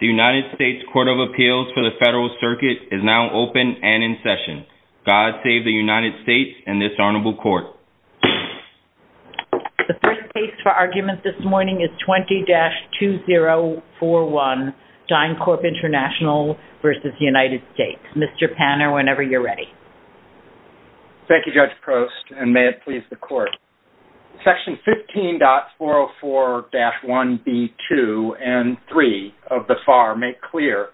The United States Court of Appeals for the Federal Circuit is now open and in session. God save the United States and this honorable court. The first case for argument this morning is 20-2041, DynCorp International v. United States. Mr. Panner, whenever you're ready. Thank you, Judge Prost, and may it please the court. Section 15.404-1B2 and 3 of the FAR make clear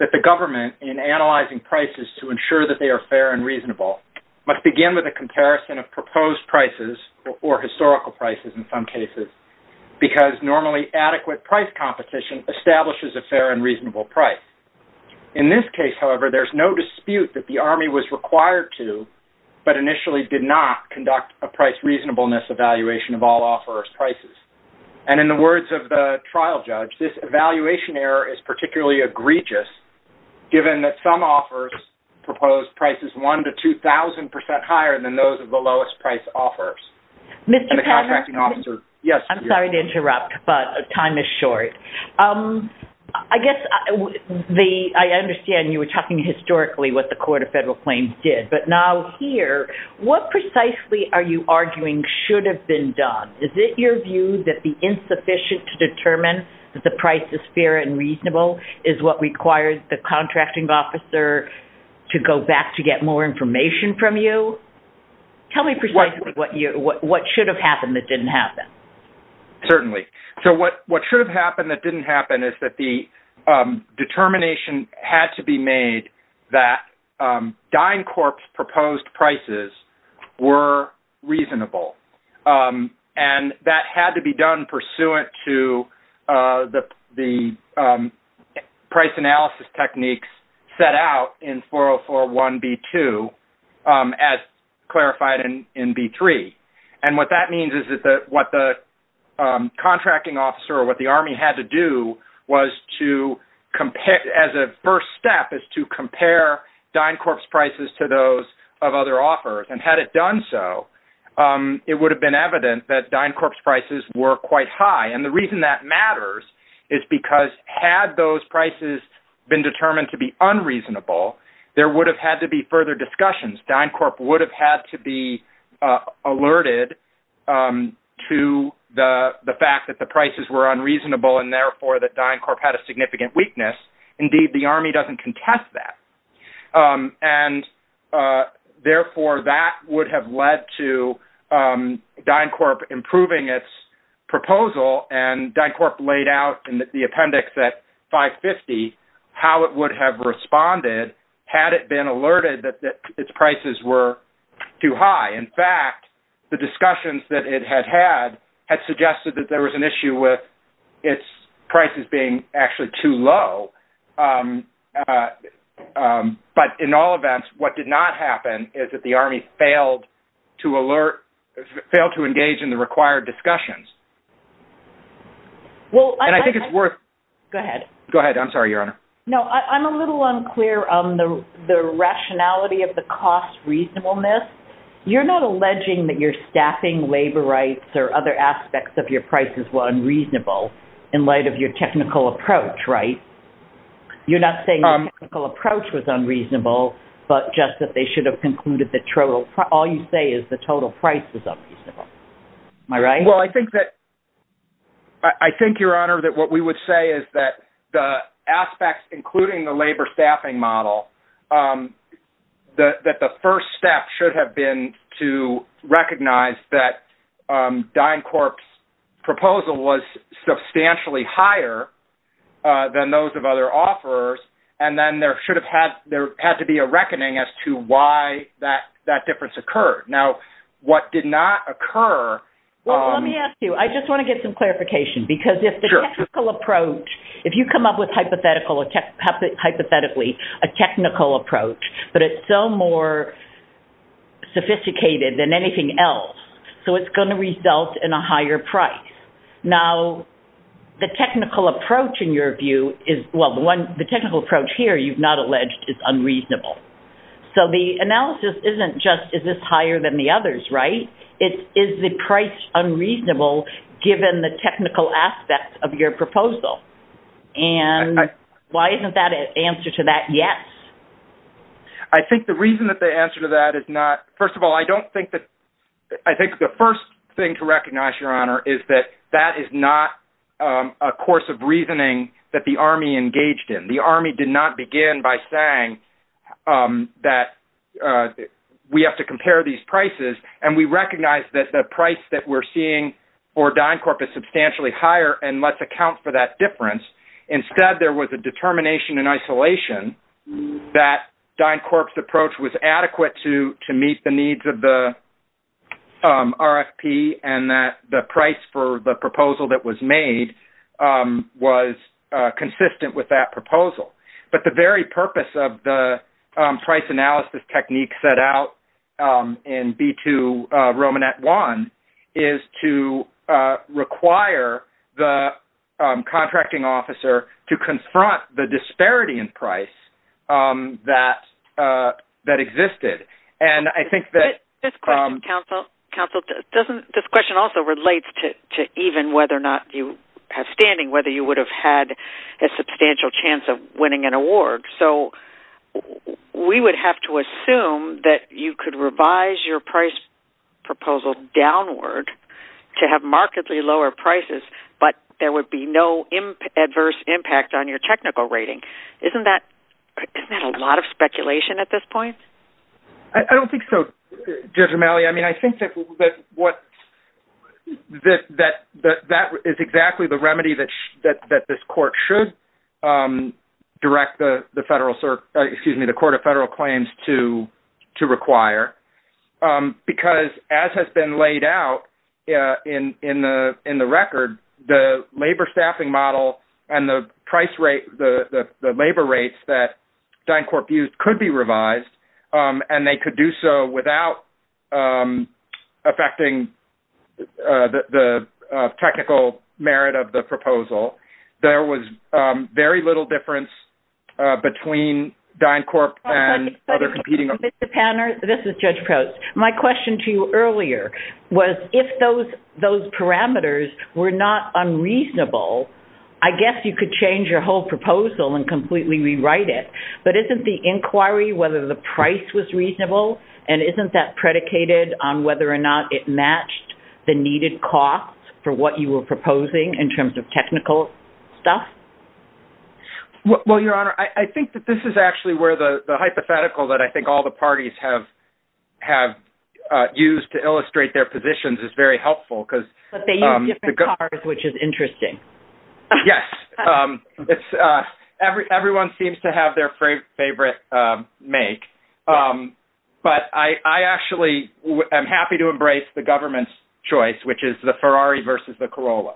that the government, in analyzing prices to ensure that they are fair and reasonable, must begin with a comparison of proposed prices, or historical prices in some cases, because normally adequate price competition establishes a fair and reasonable price. In this case, however, there's no dispute that the Army was required to, but initially did not, conduct a price reasonableness evaluation of all offerors' prices. And in the words of the trial judge, this evaluation error is particularly egregious, given that some offerors proposed prices 1 to 2,000% higher than those of the lowest price offerors. Mr. Panner, I'm sorry to interrupt, but time is short. I guess, I understand you were talking historically what the Court of Federal Claims did, but now here, what precisely are you arguing should have been done? Is it your view that the insufficient to determine that the price is fair and reasonable is what requires the contracting officer to go back to get more information from you? Tell me precisely what should have happened that didn't happen. Certainly. So what should have happened that didn't happen is that the determination had to be made that DynCorp's proposed prices were reasonable. And that had to be done pursuant to the price analysis techniques set out in 4041B2, as clarified in B3. And what that means is that what the contracting officer or what the Army had to do was to, as a first step, is to compare DynCorp's prices to those of other offerors. And had it done so, it would have been evident that DynCorp's prices were quite high. And the reason that matters is because had those prices been determined to be unreasonable, there would have had to be alerted to the fact that the prices were unreasonable, and therefore that DynCorp had a significant weakness. Indeed, the Army doesn't contest that. And therefore, that would have led to DynCorp improving its proposal. And DynCorp laid out in the appendix at 550 how it would have responded had it been alerted that its prices were too high. In fact, the discussions that it had had had suggested that there was an issue with its prices being actually too low. But in all events, what did not happen is that the Army failed to engage in the I'm sorry, Your Honor. No, I'm a little unclear on the rationality of the cost reasonableness. You're not alleging that you're staffing labor rights or other aspects of your prices were unreasonable in light of your technical approach, right? You're not saying the technical approach was unreasonable, but just that they should have concluded that all you say is the total price is Well, I think that I think, Your Honor, that what we would say is that the aspects, including the labor staffing model, that the first step should have been to recognize that DynCorp's proposal was substantially higher than those of other offers. And then there should have had there had to be a Let me ask you, I just want to get some clarification, because if the technical approach, if you come up with hypothetically a technical approach, but it's so more sophisticated than anything else, so it's going to result in a higher price. Now, the technical approach in your view is, well, the technical approach here, you've not alleged, is unreasonable. So the analysis isn't just is this higher than the others, right? Is the price unreasonable, given the technical aspects of your proposal? And why isn't that an answer to that? Yes. I think the reason that the answer to that is not, first of all, I don't think that I think the first thing to recognize, Your Honor, is that that is not a course of reasoning that the Army engaged in. The Army did not begin by saying that we have to compare these prices, and we recognize that the price that we're seeing for DynCorp is substantially higher, and let's account for that difference. Instead, there was a determination in isolation that DynCorp's approach was adequate to meet the needs of the RFP, and that the price for the proposal that was made was consistent with that proposal. But the very purpose of the Romanet I is to require the contracting officer to confront the disparity in price that existed. And I think that... This question also relates to even whether or not you have standing, whether you would have had a substantial chance of winning an award. So we would have to assume that you could revise your price proposal downward to have markedly lower prices, but there would be no adverse impact on your technical rating. Isn't that a lot of speculation at this point? I don't think so, Judge O'Malley. I mean, I think that that is exactly the remedy that this court should direct the federal... Excuse me, the Court of Federal Claims to require, because as has been laid out in the record, the labor staffing model and the labor rates that DynCorp used could be revised, and they could do so without affecting the technical merit of the proposal. There was very little difference between DynCorp and other competing... Mr. Panner, this is Judge Post. My question to you earlier was, if those parameters were not unreasonable, I guess you could change your whole proposal and completely rewrite it. But isn't the inquiry whether the price was reasonable, and isn't that predicated on whether or not it matched the needed cost for what you were proposing in terms of technical stuff? Well, Your Honor, I think that this is actually where the hypothetical that I think all the parties have used to illustrate their positions is very helpful, because... But they use different cars, which is interesting. Yes. Everyone seems to have their favorite make, but I actually am happy to embrace the government's choice, which is the Ferrari versus the Corolla.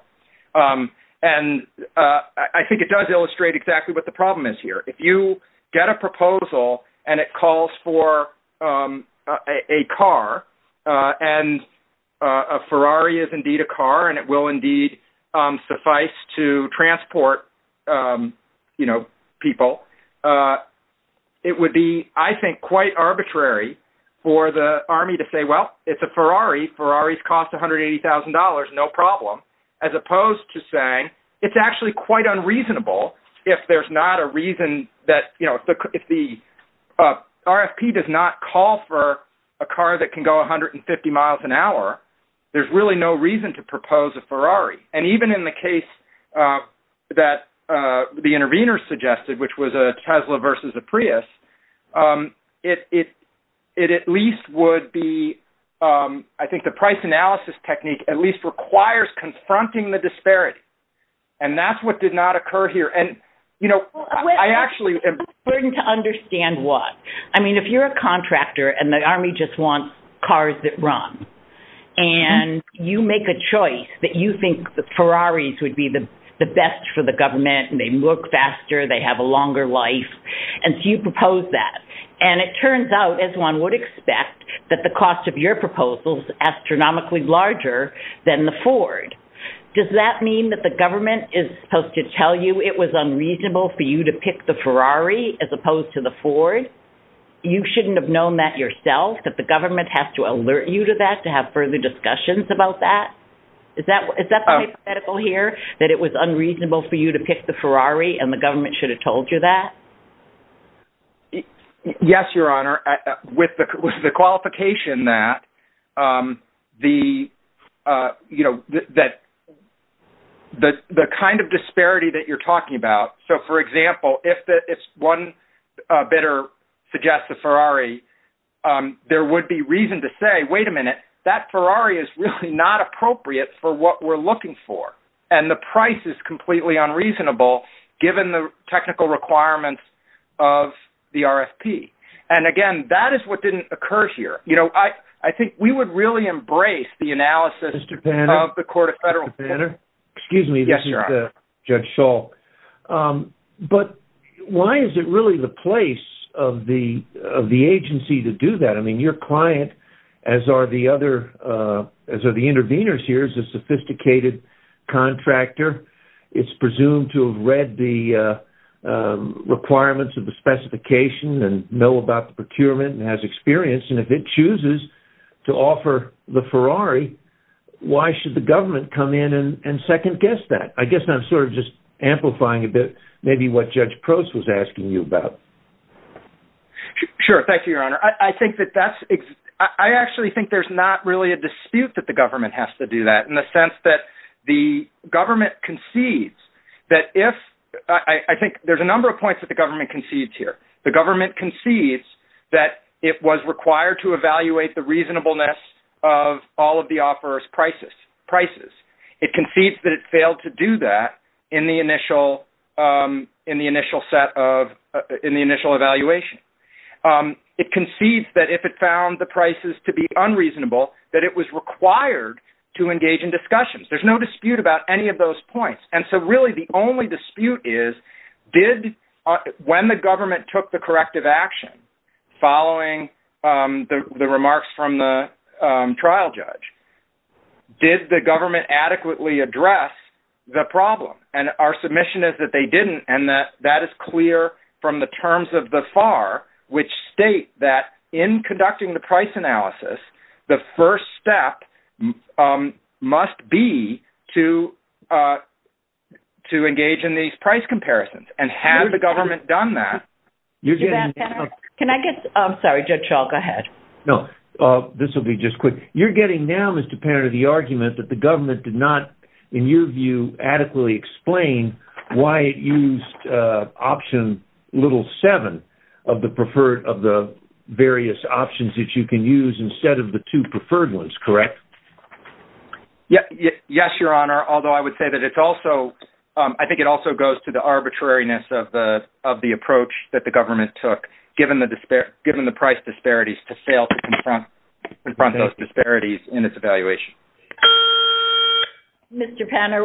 And I think it does illustrate exactly what the problem is here. If you get a proposal and it calls for a car, and a Ferrari is indeed a car, and it will indeed suffice to transport people, it would be, I think, quite arbitrary for the Army to say, well, it's a Ferrari. Ferraris cost $180,000, no problem, as opposed to saying it's actually quite unreasonable if there's not a reason that... If the RFP does not call for a car that can go 150 miles an hour, there's really no reason to propose a Ferrari. And even in the case that the intervener suggested, which was a Tesla versus a Prius, it at least would be... I think the price analysis technique at least requires confronting the disparity. And that's what did not occur here. And I actually... It's important to understand what. I mean, if you're a contractor and the Army just wants cars that run, and you make a choice that you think the Ferraris would be the best for the government, and they work faster, they have a longer life, and so you propose that. And it turns out, as one would expect, that the cost of your proposal is astronomically larger than the Ford. Does that mean that the government is supposed to tell you it was unreasonable for you to pick the Ferrari as opposed to the Ford? You shouldn't have known that yourself, that the government has to alert you to that to have further discussions about that? Is that the hypothetical here, that it was unreasonable for you to pick the Ferrari and the government should have told you that? Yes, Your Honor. With the qualification that the kind of disparity that you're talking about, so for example, if one bidder suggests a Ferrari, there would be reason to say, wait a minute, that Ferrari is really not appropriate for what we're looking for. And the price is completely unreasonable, given the technical requirements of the RFP. And again, that is what didn't occur here. I think we would really embrace the analysis of the Court of Appeals. But why is it really the place of the agency to do that? I mean, your client, as are the interveners here, is a sophisticated contractor. It's presumed to have read the requirements of the specification and know about the procurement and has experience. And if it chooses to offer the Ferrari, why should the government come in and second-guess that? I guess I'm sort of just amplifying a bit maybe what Judge Prost was asking you about. Sure. Thank you, Your Honor. I actually think there's not really a dispute that the government has to do that, in the sense that the government concedes that if... I think there's a number of points that the government concedes here. The government concedes that it was required to in the initial evaluation. It concedes that if it found the prices to be unreasonable, that it was required to engage in discussions. There's no dispute about any of those points. And so really, the only dispute is, when the government took the corrective action, following the remarks from the trial judge, did the government adequately address the problem? And our submission is that they didn't. And that is clear from the terms of the FAR, which state that in conducting the price analysis, the first step must be to engage in these price comparisons. And had the government done that... Can I get... I'm sorry, Judge Schall. Go ahead. No. This will be just quick. You're getting now, Mr. Panetta, the argument that the government did not, in your view, adequately explain why it used option little seven of the various options that you can use instead of the two preferred ones, correct? Yes, Your Honor. Although I would say that it's also... I think it also goes to the arbitrariness of the approach that the government took, given the price disparities, to fail to confront those disparities in its evaluation. Mr. Panetta,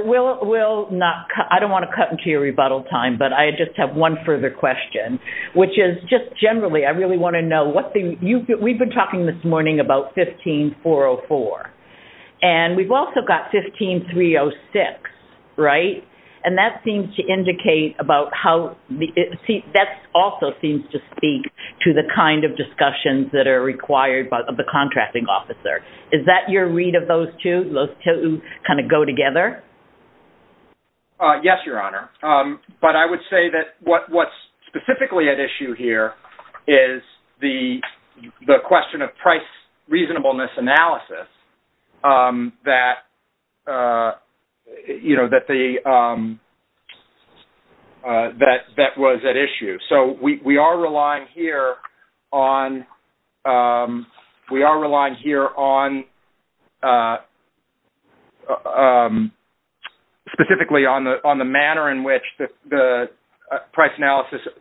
I don't want to cut into your rebuttal time, but I just have one further question, which is just generally, I really want to know what the... We've been talking this morning about 15404, and we've also got 15306, right? And that seems to indicate about how... That also seems to speak to the kind of discussions that are required of the contracting officer. Is that your read of those two? Those two kind of go together? Yes, Your Honor. But I would say that what's specifically at issue here is the question of price reasonableness analysis that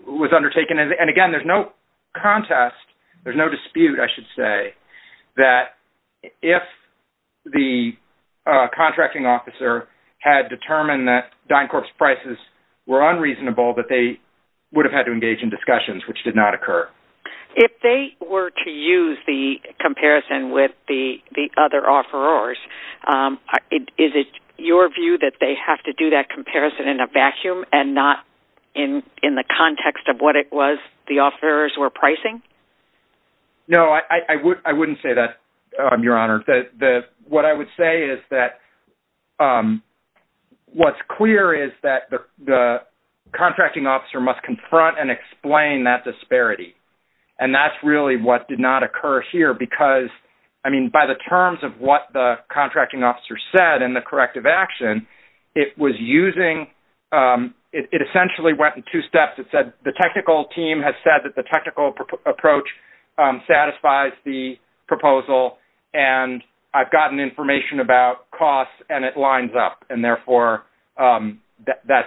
was at undertaken. And again, there's no contest, there's no dispute, I should say, that if the contracting officer had determined that DynCorp's prices were unreasonable, that they would have had to engage in discussions, which did not occur. If they were to use the comparison with the other offerors, is it your view that they have to do that comparison in a vacuum and not in the context of what it was the offerors were pricing? No, I wouldn't say that, Your Honor. What I would say is that what's clear is that the contracting officer must confront and explain that disparity. And that's really what did not occur here because, I mean, by the terms of what the contracting officer said and the corrective action, it was using... It essentially went in two steps. It said the technical team has said that the technical approach satisfies the proposal, and I've gotten information about costs and it lines up, and therefore that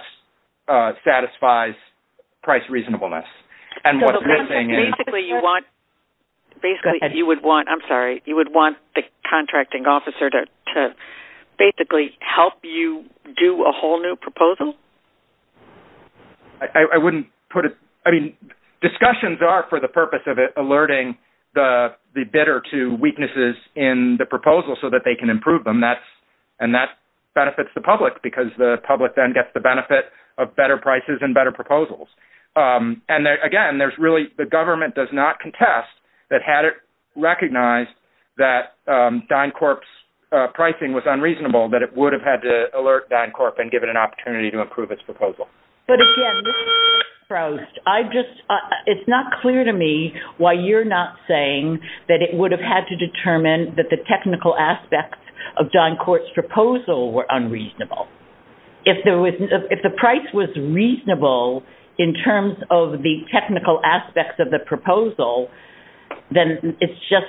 satisfies price reasonableness. And what's missing is... Basically, you would want... I'm sorry. You would want the contracting officer to basically help you do a whole new proposal? I wouldn't put it... I mean, discussions are for the purpose of alerting the bidder to weaknesses in the proposal so that they can improve them. And that benefits the public because the public then gets the benefit of better prices and better proposals. And again, there's really... The government does not contest that had it recognized that DynCorp's pricing was unreasonable, that it would have had to alert DynCorp and give it an opportunity to improve its proposal. But again, Mr. Frost, I just... It's not clear to me why you're not saying that it would have had to determine that the technical aspects of DynCorp's proposal were unreasonable. If the price was reasonable in terms of the technical aspects of the proposal, then it's just...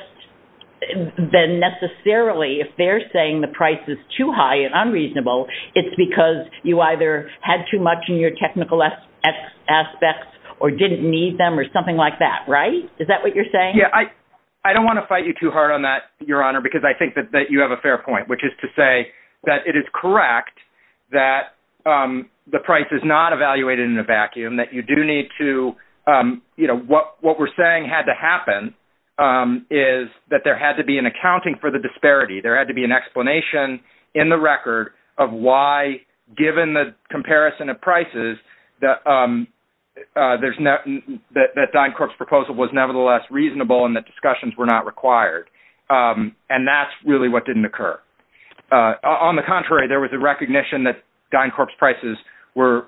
Then necessarily, if they're saying the price is too high and unreasonable, it's because you either had too much in your technical aspects or didn't need them or something like that, right? Is that what you're saying? Yeah. I don't want to fight you too hard on that, Your Honor, because I think that you have a fair point, which is to say that it is correct that the price is not evaluated in a vacuum, that you do need to... What we're saying had to happen is that there had to be an accounting for the disparity. There had to be an explanation in the record of why, given the comparison of prices, that DynCorp's proposal was nevertheless reasonable and that discussions were not required. And that's really what didn't occur. On the contrary, there was a recognition that DynCorp's prices were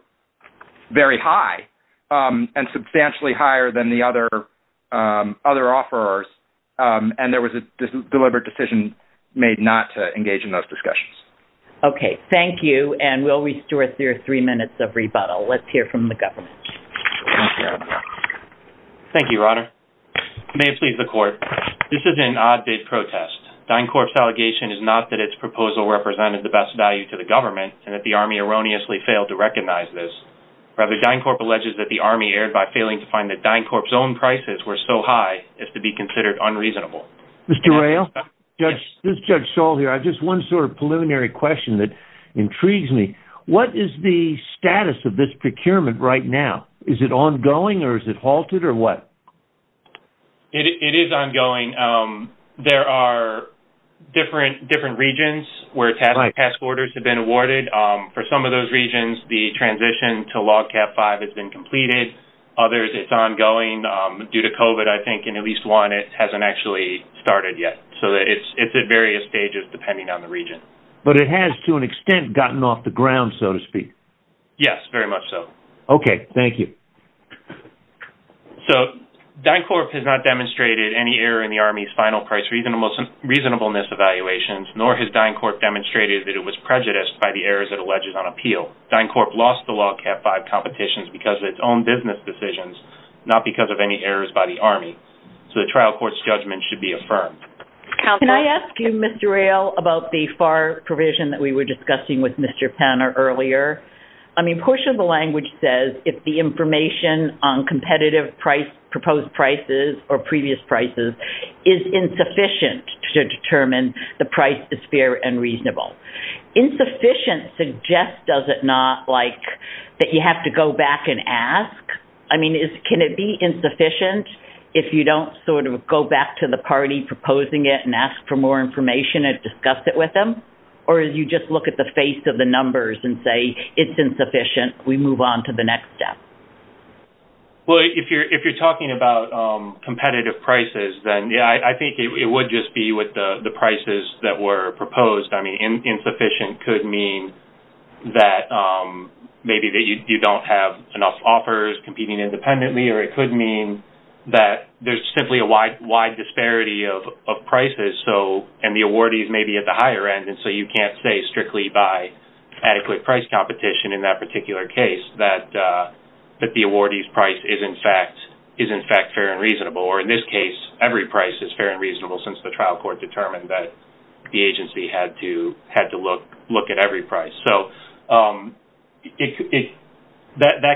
very high and substantially higher than the other offerors, and there was a deliberate decision made not to engage in those discussions. Okay. Thank you. And we'll restore to you three minutes of rebuttal. Let's hear from the government. Thank you, Your Honor. May it please the court. This is an odd-bid protest. DynCorp's allegation is not that its proposal represented the best value to the government and that the Army erroneously failed to recognize this. Rather, DynCorp alleges that the Army erred by failing to find that DynCorp's own prices were so high as to be considered unreasonable. Mr. Rayl, this is Judge Saul here. I have just one sort of preliminary question that intrigues me. What is the status of this procurement right now? Is it ongoing or is it halted or what? It is ongoing. There are different regions where task orders have been awarded. For some of those regions, the transition to LOGCAP V has been completed. Others, it's ongoing. Due to COVID, I think in at least one, it hasn't actually started yet. So it's at various stages, depending on the region. But it has, to an extent, gotten off the ground, so to speak. Yes, very much so. Okay. Thank you. So DynCorp has not demonstrated any error in the Army's final price reasonableness evaluations, nor has DynCorp demonstrated that it was prejudiced by the errors it alleges on appeal. DynCorp lost the LOGCAP V competitions because of its own business decisions, not because of any errors by the Army. So the trial court's judgment should be affirmed. Can I ask you, Mr. Rayl, about the FAR provision that we were discussing with Mr. Penner earlier? I mean, portion of the language says if the information on competitive proposed prices or previous prices is insufficient to determine the price is fair and reasonable. Insufficient suggests, does it not, like, that you have to go back and ask? I mean, can it be insufficient if you don't sort of go back to the party proposing it and ask for more information and discuss it with them? Or do you just look at the face of the numbers and say, it's insufficient, we move on to the next step? Well, if you're talking about competitive prices, then I think it would just be with the prices that were proposed. I mean, insufficient could mean that maybe that you don't have enough offers competing independently, or it could mean that there's simply a wide disparity of prices and the awardees may be at the higher end, and so you can't say strictly by adequate price competition in that particular case that the awardee's price is, in fact, fair and reasonable. Or, in this case, every price is fair and reasonable since the trial court determined that the agency had to look at every price. So that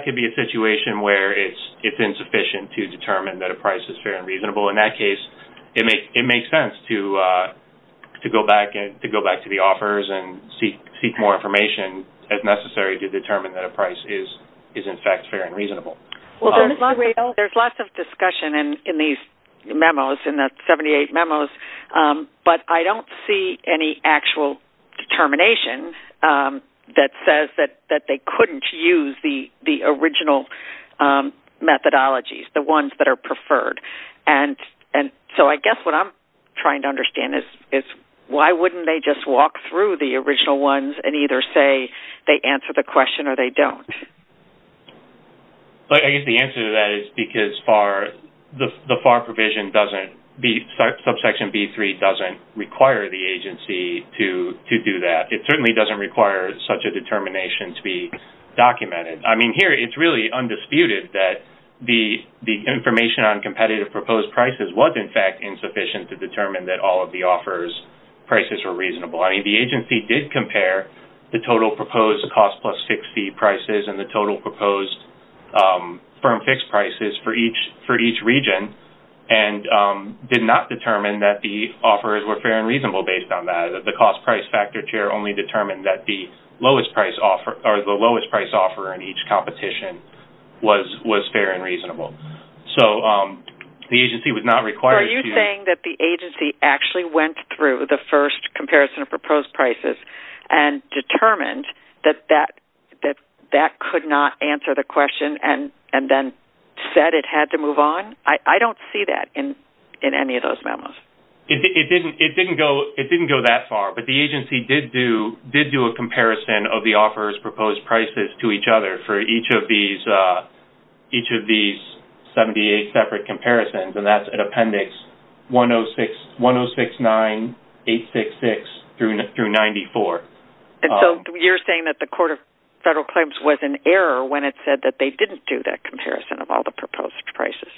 could be a situation where it's insufficient to determine that a price is fair and reasonable. In that case, it makes sense to go back to the as necessary to determine that a price is, in fact, fair and reasonable. There's lots of discussion in these memos, in the 78 memos, but I don't see any actual determination that says that they couldn't use the original methodologies, the ones that are preferred. And so I guess what I'm trying to understand is why wouldn't they just walk through the original ones and either say they answer the question or they don't? But I guess the answer to that is because the FAR provision doesn't, subsection B3 doesn't require the agency to do that. It certainly doesn't require such a determination to be documented. I mean, here it's really undisputed that the information on competitive proposed prices was, in fact, insufficient to determine that all the offerors' prices were reasonable. I mean, the agency did compare the total proposed cost plus fixed fee prices and the total proposed firm fixed prices for each region and did not determine that the offerors were fair and reasonable based on that. The cost price factor chair only determined that the lowest price offeror in each competition was fair and reasonable. So the agency was not Are you saying that the agency actually went through the first comparison of proposed prices and determined that that could not answer the question and then said it had to move on? I don't see that in any of those memos. It didn't go that far, but the agency did do a comparison of the offerors' proposed prices to each other for each of these 78 separate comparisons, and that's at Appendix 1069-866-94. And so you're saying that the Court of Federal Claims was in error when it said that they didn't do that comparison of all the proposed prices?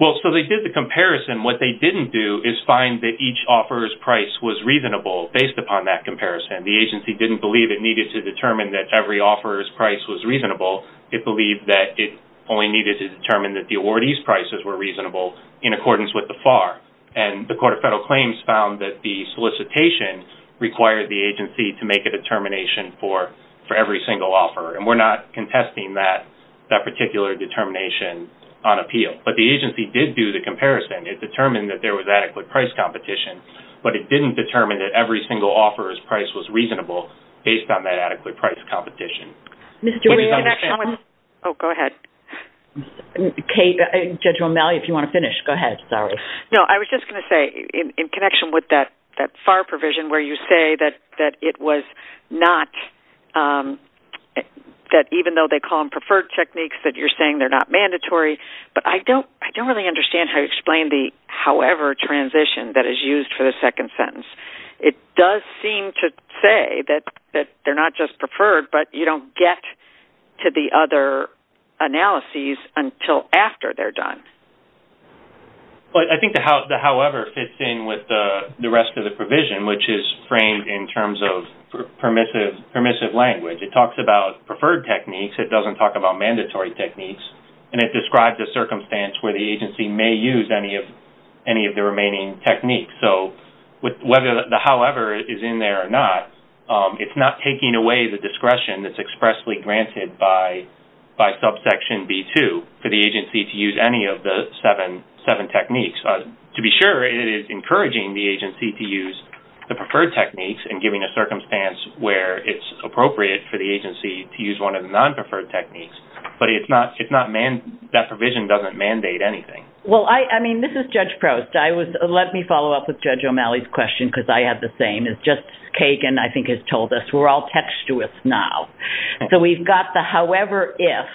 Well, so they did the comparison. What they didn't do is find that each offeror's price was reasonable based upon that comparison. The agency didn't believe it needed to determine that every offeror's price was reasonable. It believed that it only needed to determine that the awardee's prices were reasonable in accordance with the FAR. And the Court of Federal Claims found that the solicitation required the agency to make a determination for every single offeror, and we're not contesting that particular determination on appeal. But the agency did do the comparison. It determined that there was adequate price competition, but it didn't determine that every single offeror's price was reasonable based on that adequate price competition. Ms. Durand, can I come in? Oh, go ahead. Kate, Judge O'Malley, if you want to finish, go ahead. Sorry. No, I was just going to say, in connection with that FAR provision where you say that it was not, that even though they call them preferred techniques, that you're saying they're not mandatory, but I don't really understand how you explain the however transition that is used for the second sentence. It does seem to say that they're not just preferred, but you don't get to the other analyses until after they're done. Well, I think the however fits in with the rest of the provision, which is framed in terms of permissive language. It talks about preferred techniques. It doesn't talk about mandatory techniques. And it describes a circumstance where the agency may use any of the remaining techniques. So, whether the however is in there or not, it's not taking away the discretion that's expressly granted by subsection B2 for the agency to use any of the seven techniques. To be sure, it is encouraging the agency to use the preferred techniques and giving a circumstance where it's appropriate for the agency to use one of the Well, I mean, this is Judge Proust. Let me follow up with Judge O'Malley's question, because I have the same as Justice Kagan, I think, has told us. We're all textuous now. So, we've got the however if.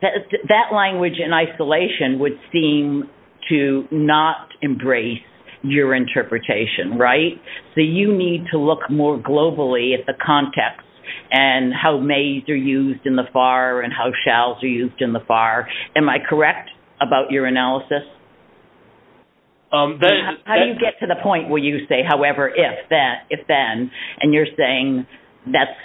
That language in isolation would seem to not embrace your interpretation, right? So, you need to look more globally at the context and how mays are used in FAR and how shalls are used in the FAR. Am I correct about your analysis? How do you get to the point where you say, however if then, and you're saying that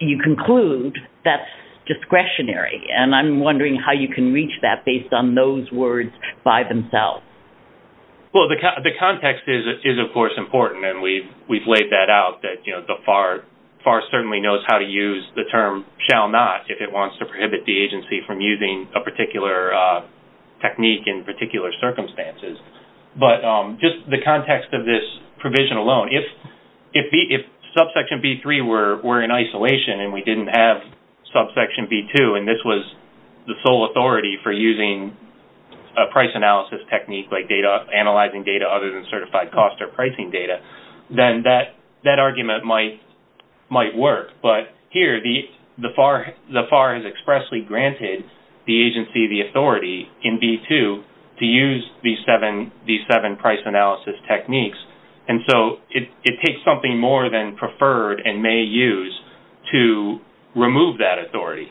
you conclude that's discretionary? And I'm wondering how you can reach that based on those words by themselves. Well, the context is, of course, important. And we've laid that out that the FAR certainly knows how to use the term shall not if it wants to prohibit the agency from using a particular technique in particular circumstances. But just the context of this provision alone, if subsection B3 were in isolation and we didn't have subsection B2, and this was the sole authority for using a price analysis technique like analyzing data other than might work. But here, the FAR has expressly granted the agency the authority in B2 to use these seven price analysis techniques. And so, it takes something more than preferred and may use to remove that authority.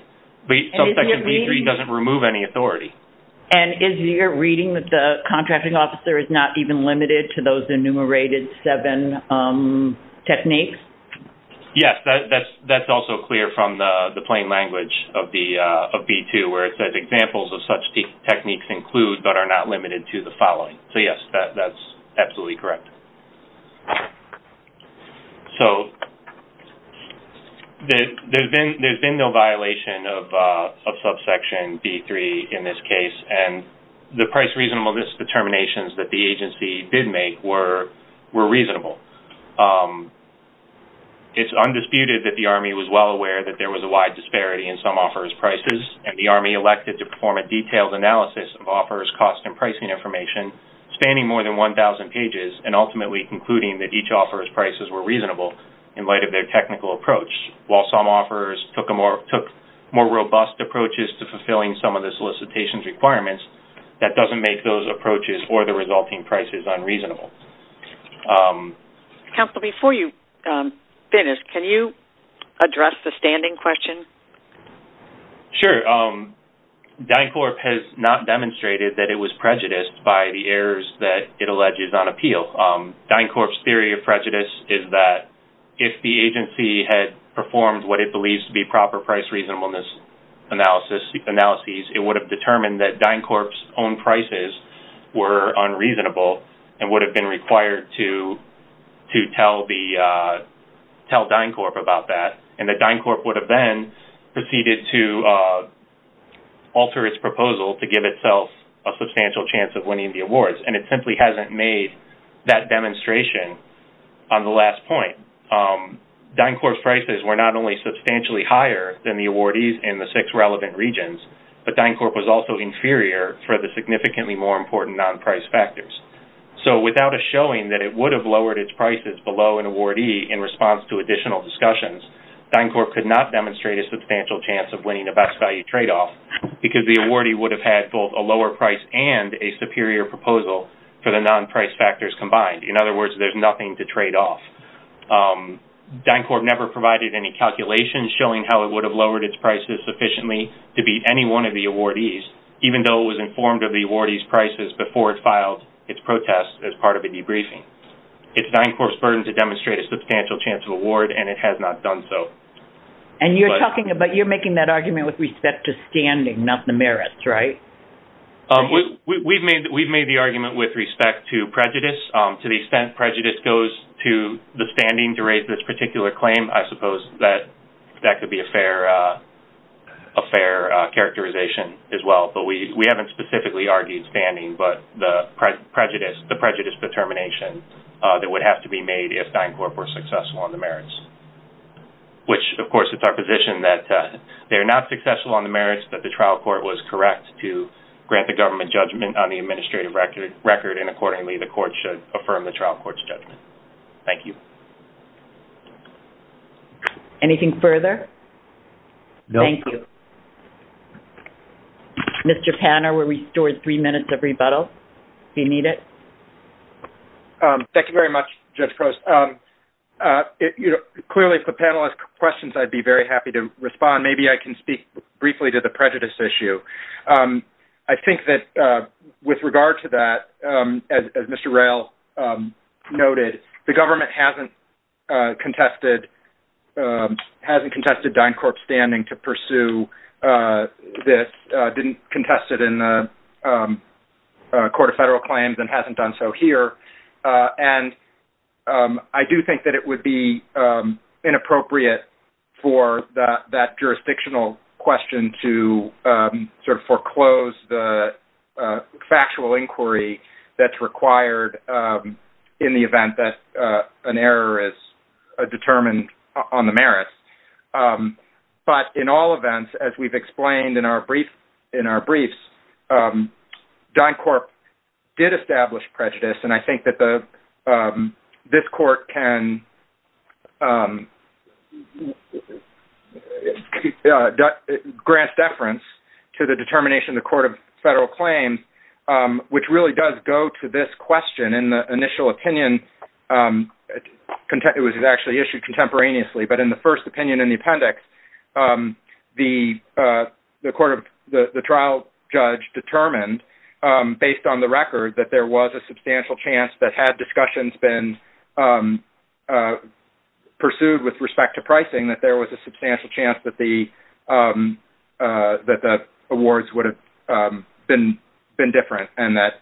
But subsection B3 doesn't remove any authority. And is your reading that the contracting officer is not even limited to those enumerated seven techniques? Yes. That's also clear from the plain language of B2 where it says, examples of such techniques include but are not limited to the following. So yes, that's absolutely correct. So, there's been no violation of subsection B3 in this case. And the price reasonableness determinations that the agency did make were reasonable. It's undisputed that the Army was well aware that there was a wide disparity in some offerors' prices. And the Army elected to perform a detailed analysis of offerors' cost and pricing information, spanning more than 1,000 pages, and ultimately concluding that each offeror's prices were reasonable in light of their technical approach. While some offerors took more robust approaches to fulfilling some of the solicitation's requirements, that doesn't make those approaches or the resulting prices unreasonable. Counselor, before you finish, can you address the standing question? Sure. DynCorp has not demonstrated that it was prejudiced by the errors that it alleges on appeal. DynCorp's theory of prejudice is that if the agency had performed what it believes to be proper price reasonableness analyses, it would have determined that DynCorp's own prices were unreasonable and would have been required to tell DynCorp about that. And that DynCorp would have then proceeded to alter its proposal to give itself a substantial chance of winning the awards. And it simply hasn't made that demonstration on the last point. DynCorp's prices were not only substantially higher than the awardees in the six relevant regions, but DynCorp was also inferior for the significantly more important non-price factors. So, without a showing that it would have lowered its prices below an awardee in response to additional discussions, DynCorp could not demonstrate a substantial chance of winning a best value tradeoff because the awardee would have had both a lower price and a superior proposal for the non-price factors combined. In other words, there's nothing to trade off. DynCorp never provided any calculations showing how it would have lowered its prices sufficiently to beat any one of the awardees, even though it was informed of the awardee's prices before it filed its protest as part of a debriefing. It's DynCorp's burden to demonstrate a substantial chance of award, and it has not done so. And you're talking about, you're making that argument with respect to standing, not the merits, right? We've made the argument with respect to prejudice, to the extent prejudice goes to the standing to raise this particular claim, I suppose that could be a fair characterization as well. But we haven't specifically argued standing, but the prejudice determination that would have to be made if DynCorp were successful on the merits. Which, of course, it's our position that they're not successful on the merits, that the trial court was correct to grant the government judgment on the administrative record, and accordingly the court should affirm the trial court's judgment. Thank you. Thank you. Anything further? No. Thank you. Mr. Panner, we're restored three minutes of rebuttal, if you need it. Thank you very much, Judge Post. Clearly, if the panel has questions, I'd be very happy to respond. Maybe I can speak briefly to the prejudice issue. I think that with regard to that, as Mr. Rayl noted, the government hasn't contested DynCorp's standing to pursue this, didn't contest it in the Court of Federal Claims, and hasn't done so here. I do think that it would be inappropriate for that jurisdictional question to foreclose the that's required in the event that an error is determined on the merits. But in all events, as we've explained in our briefs, DynCorp did establish prejudice, and I think that this court can grant deference to the determination of the Court of Federal Claims, which really does go to this question in the initial opinion. It was actually issued contemporaneously, but in the first opinion in the appendix, the trial judge determined, based on the record, that there was a substantial chance that had discussions been pursued with respect to pricing, that there was a substantial chance that the awards would have been different, and that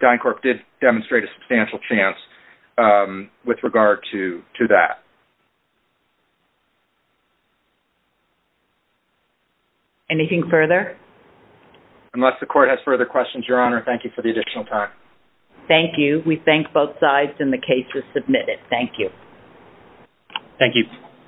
DynCorp did demonstrate a substantial chance with regard to that. Anything further? Unless the Court has further questions, Your Honor, thank you for the additional time. Thank you. We thank both sides, and the case is submitted. Thank you. Thank you.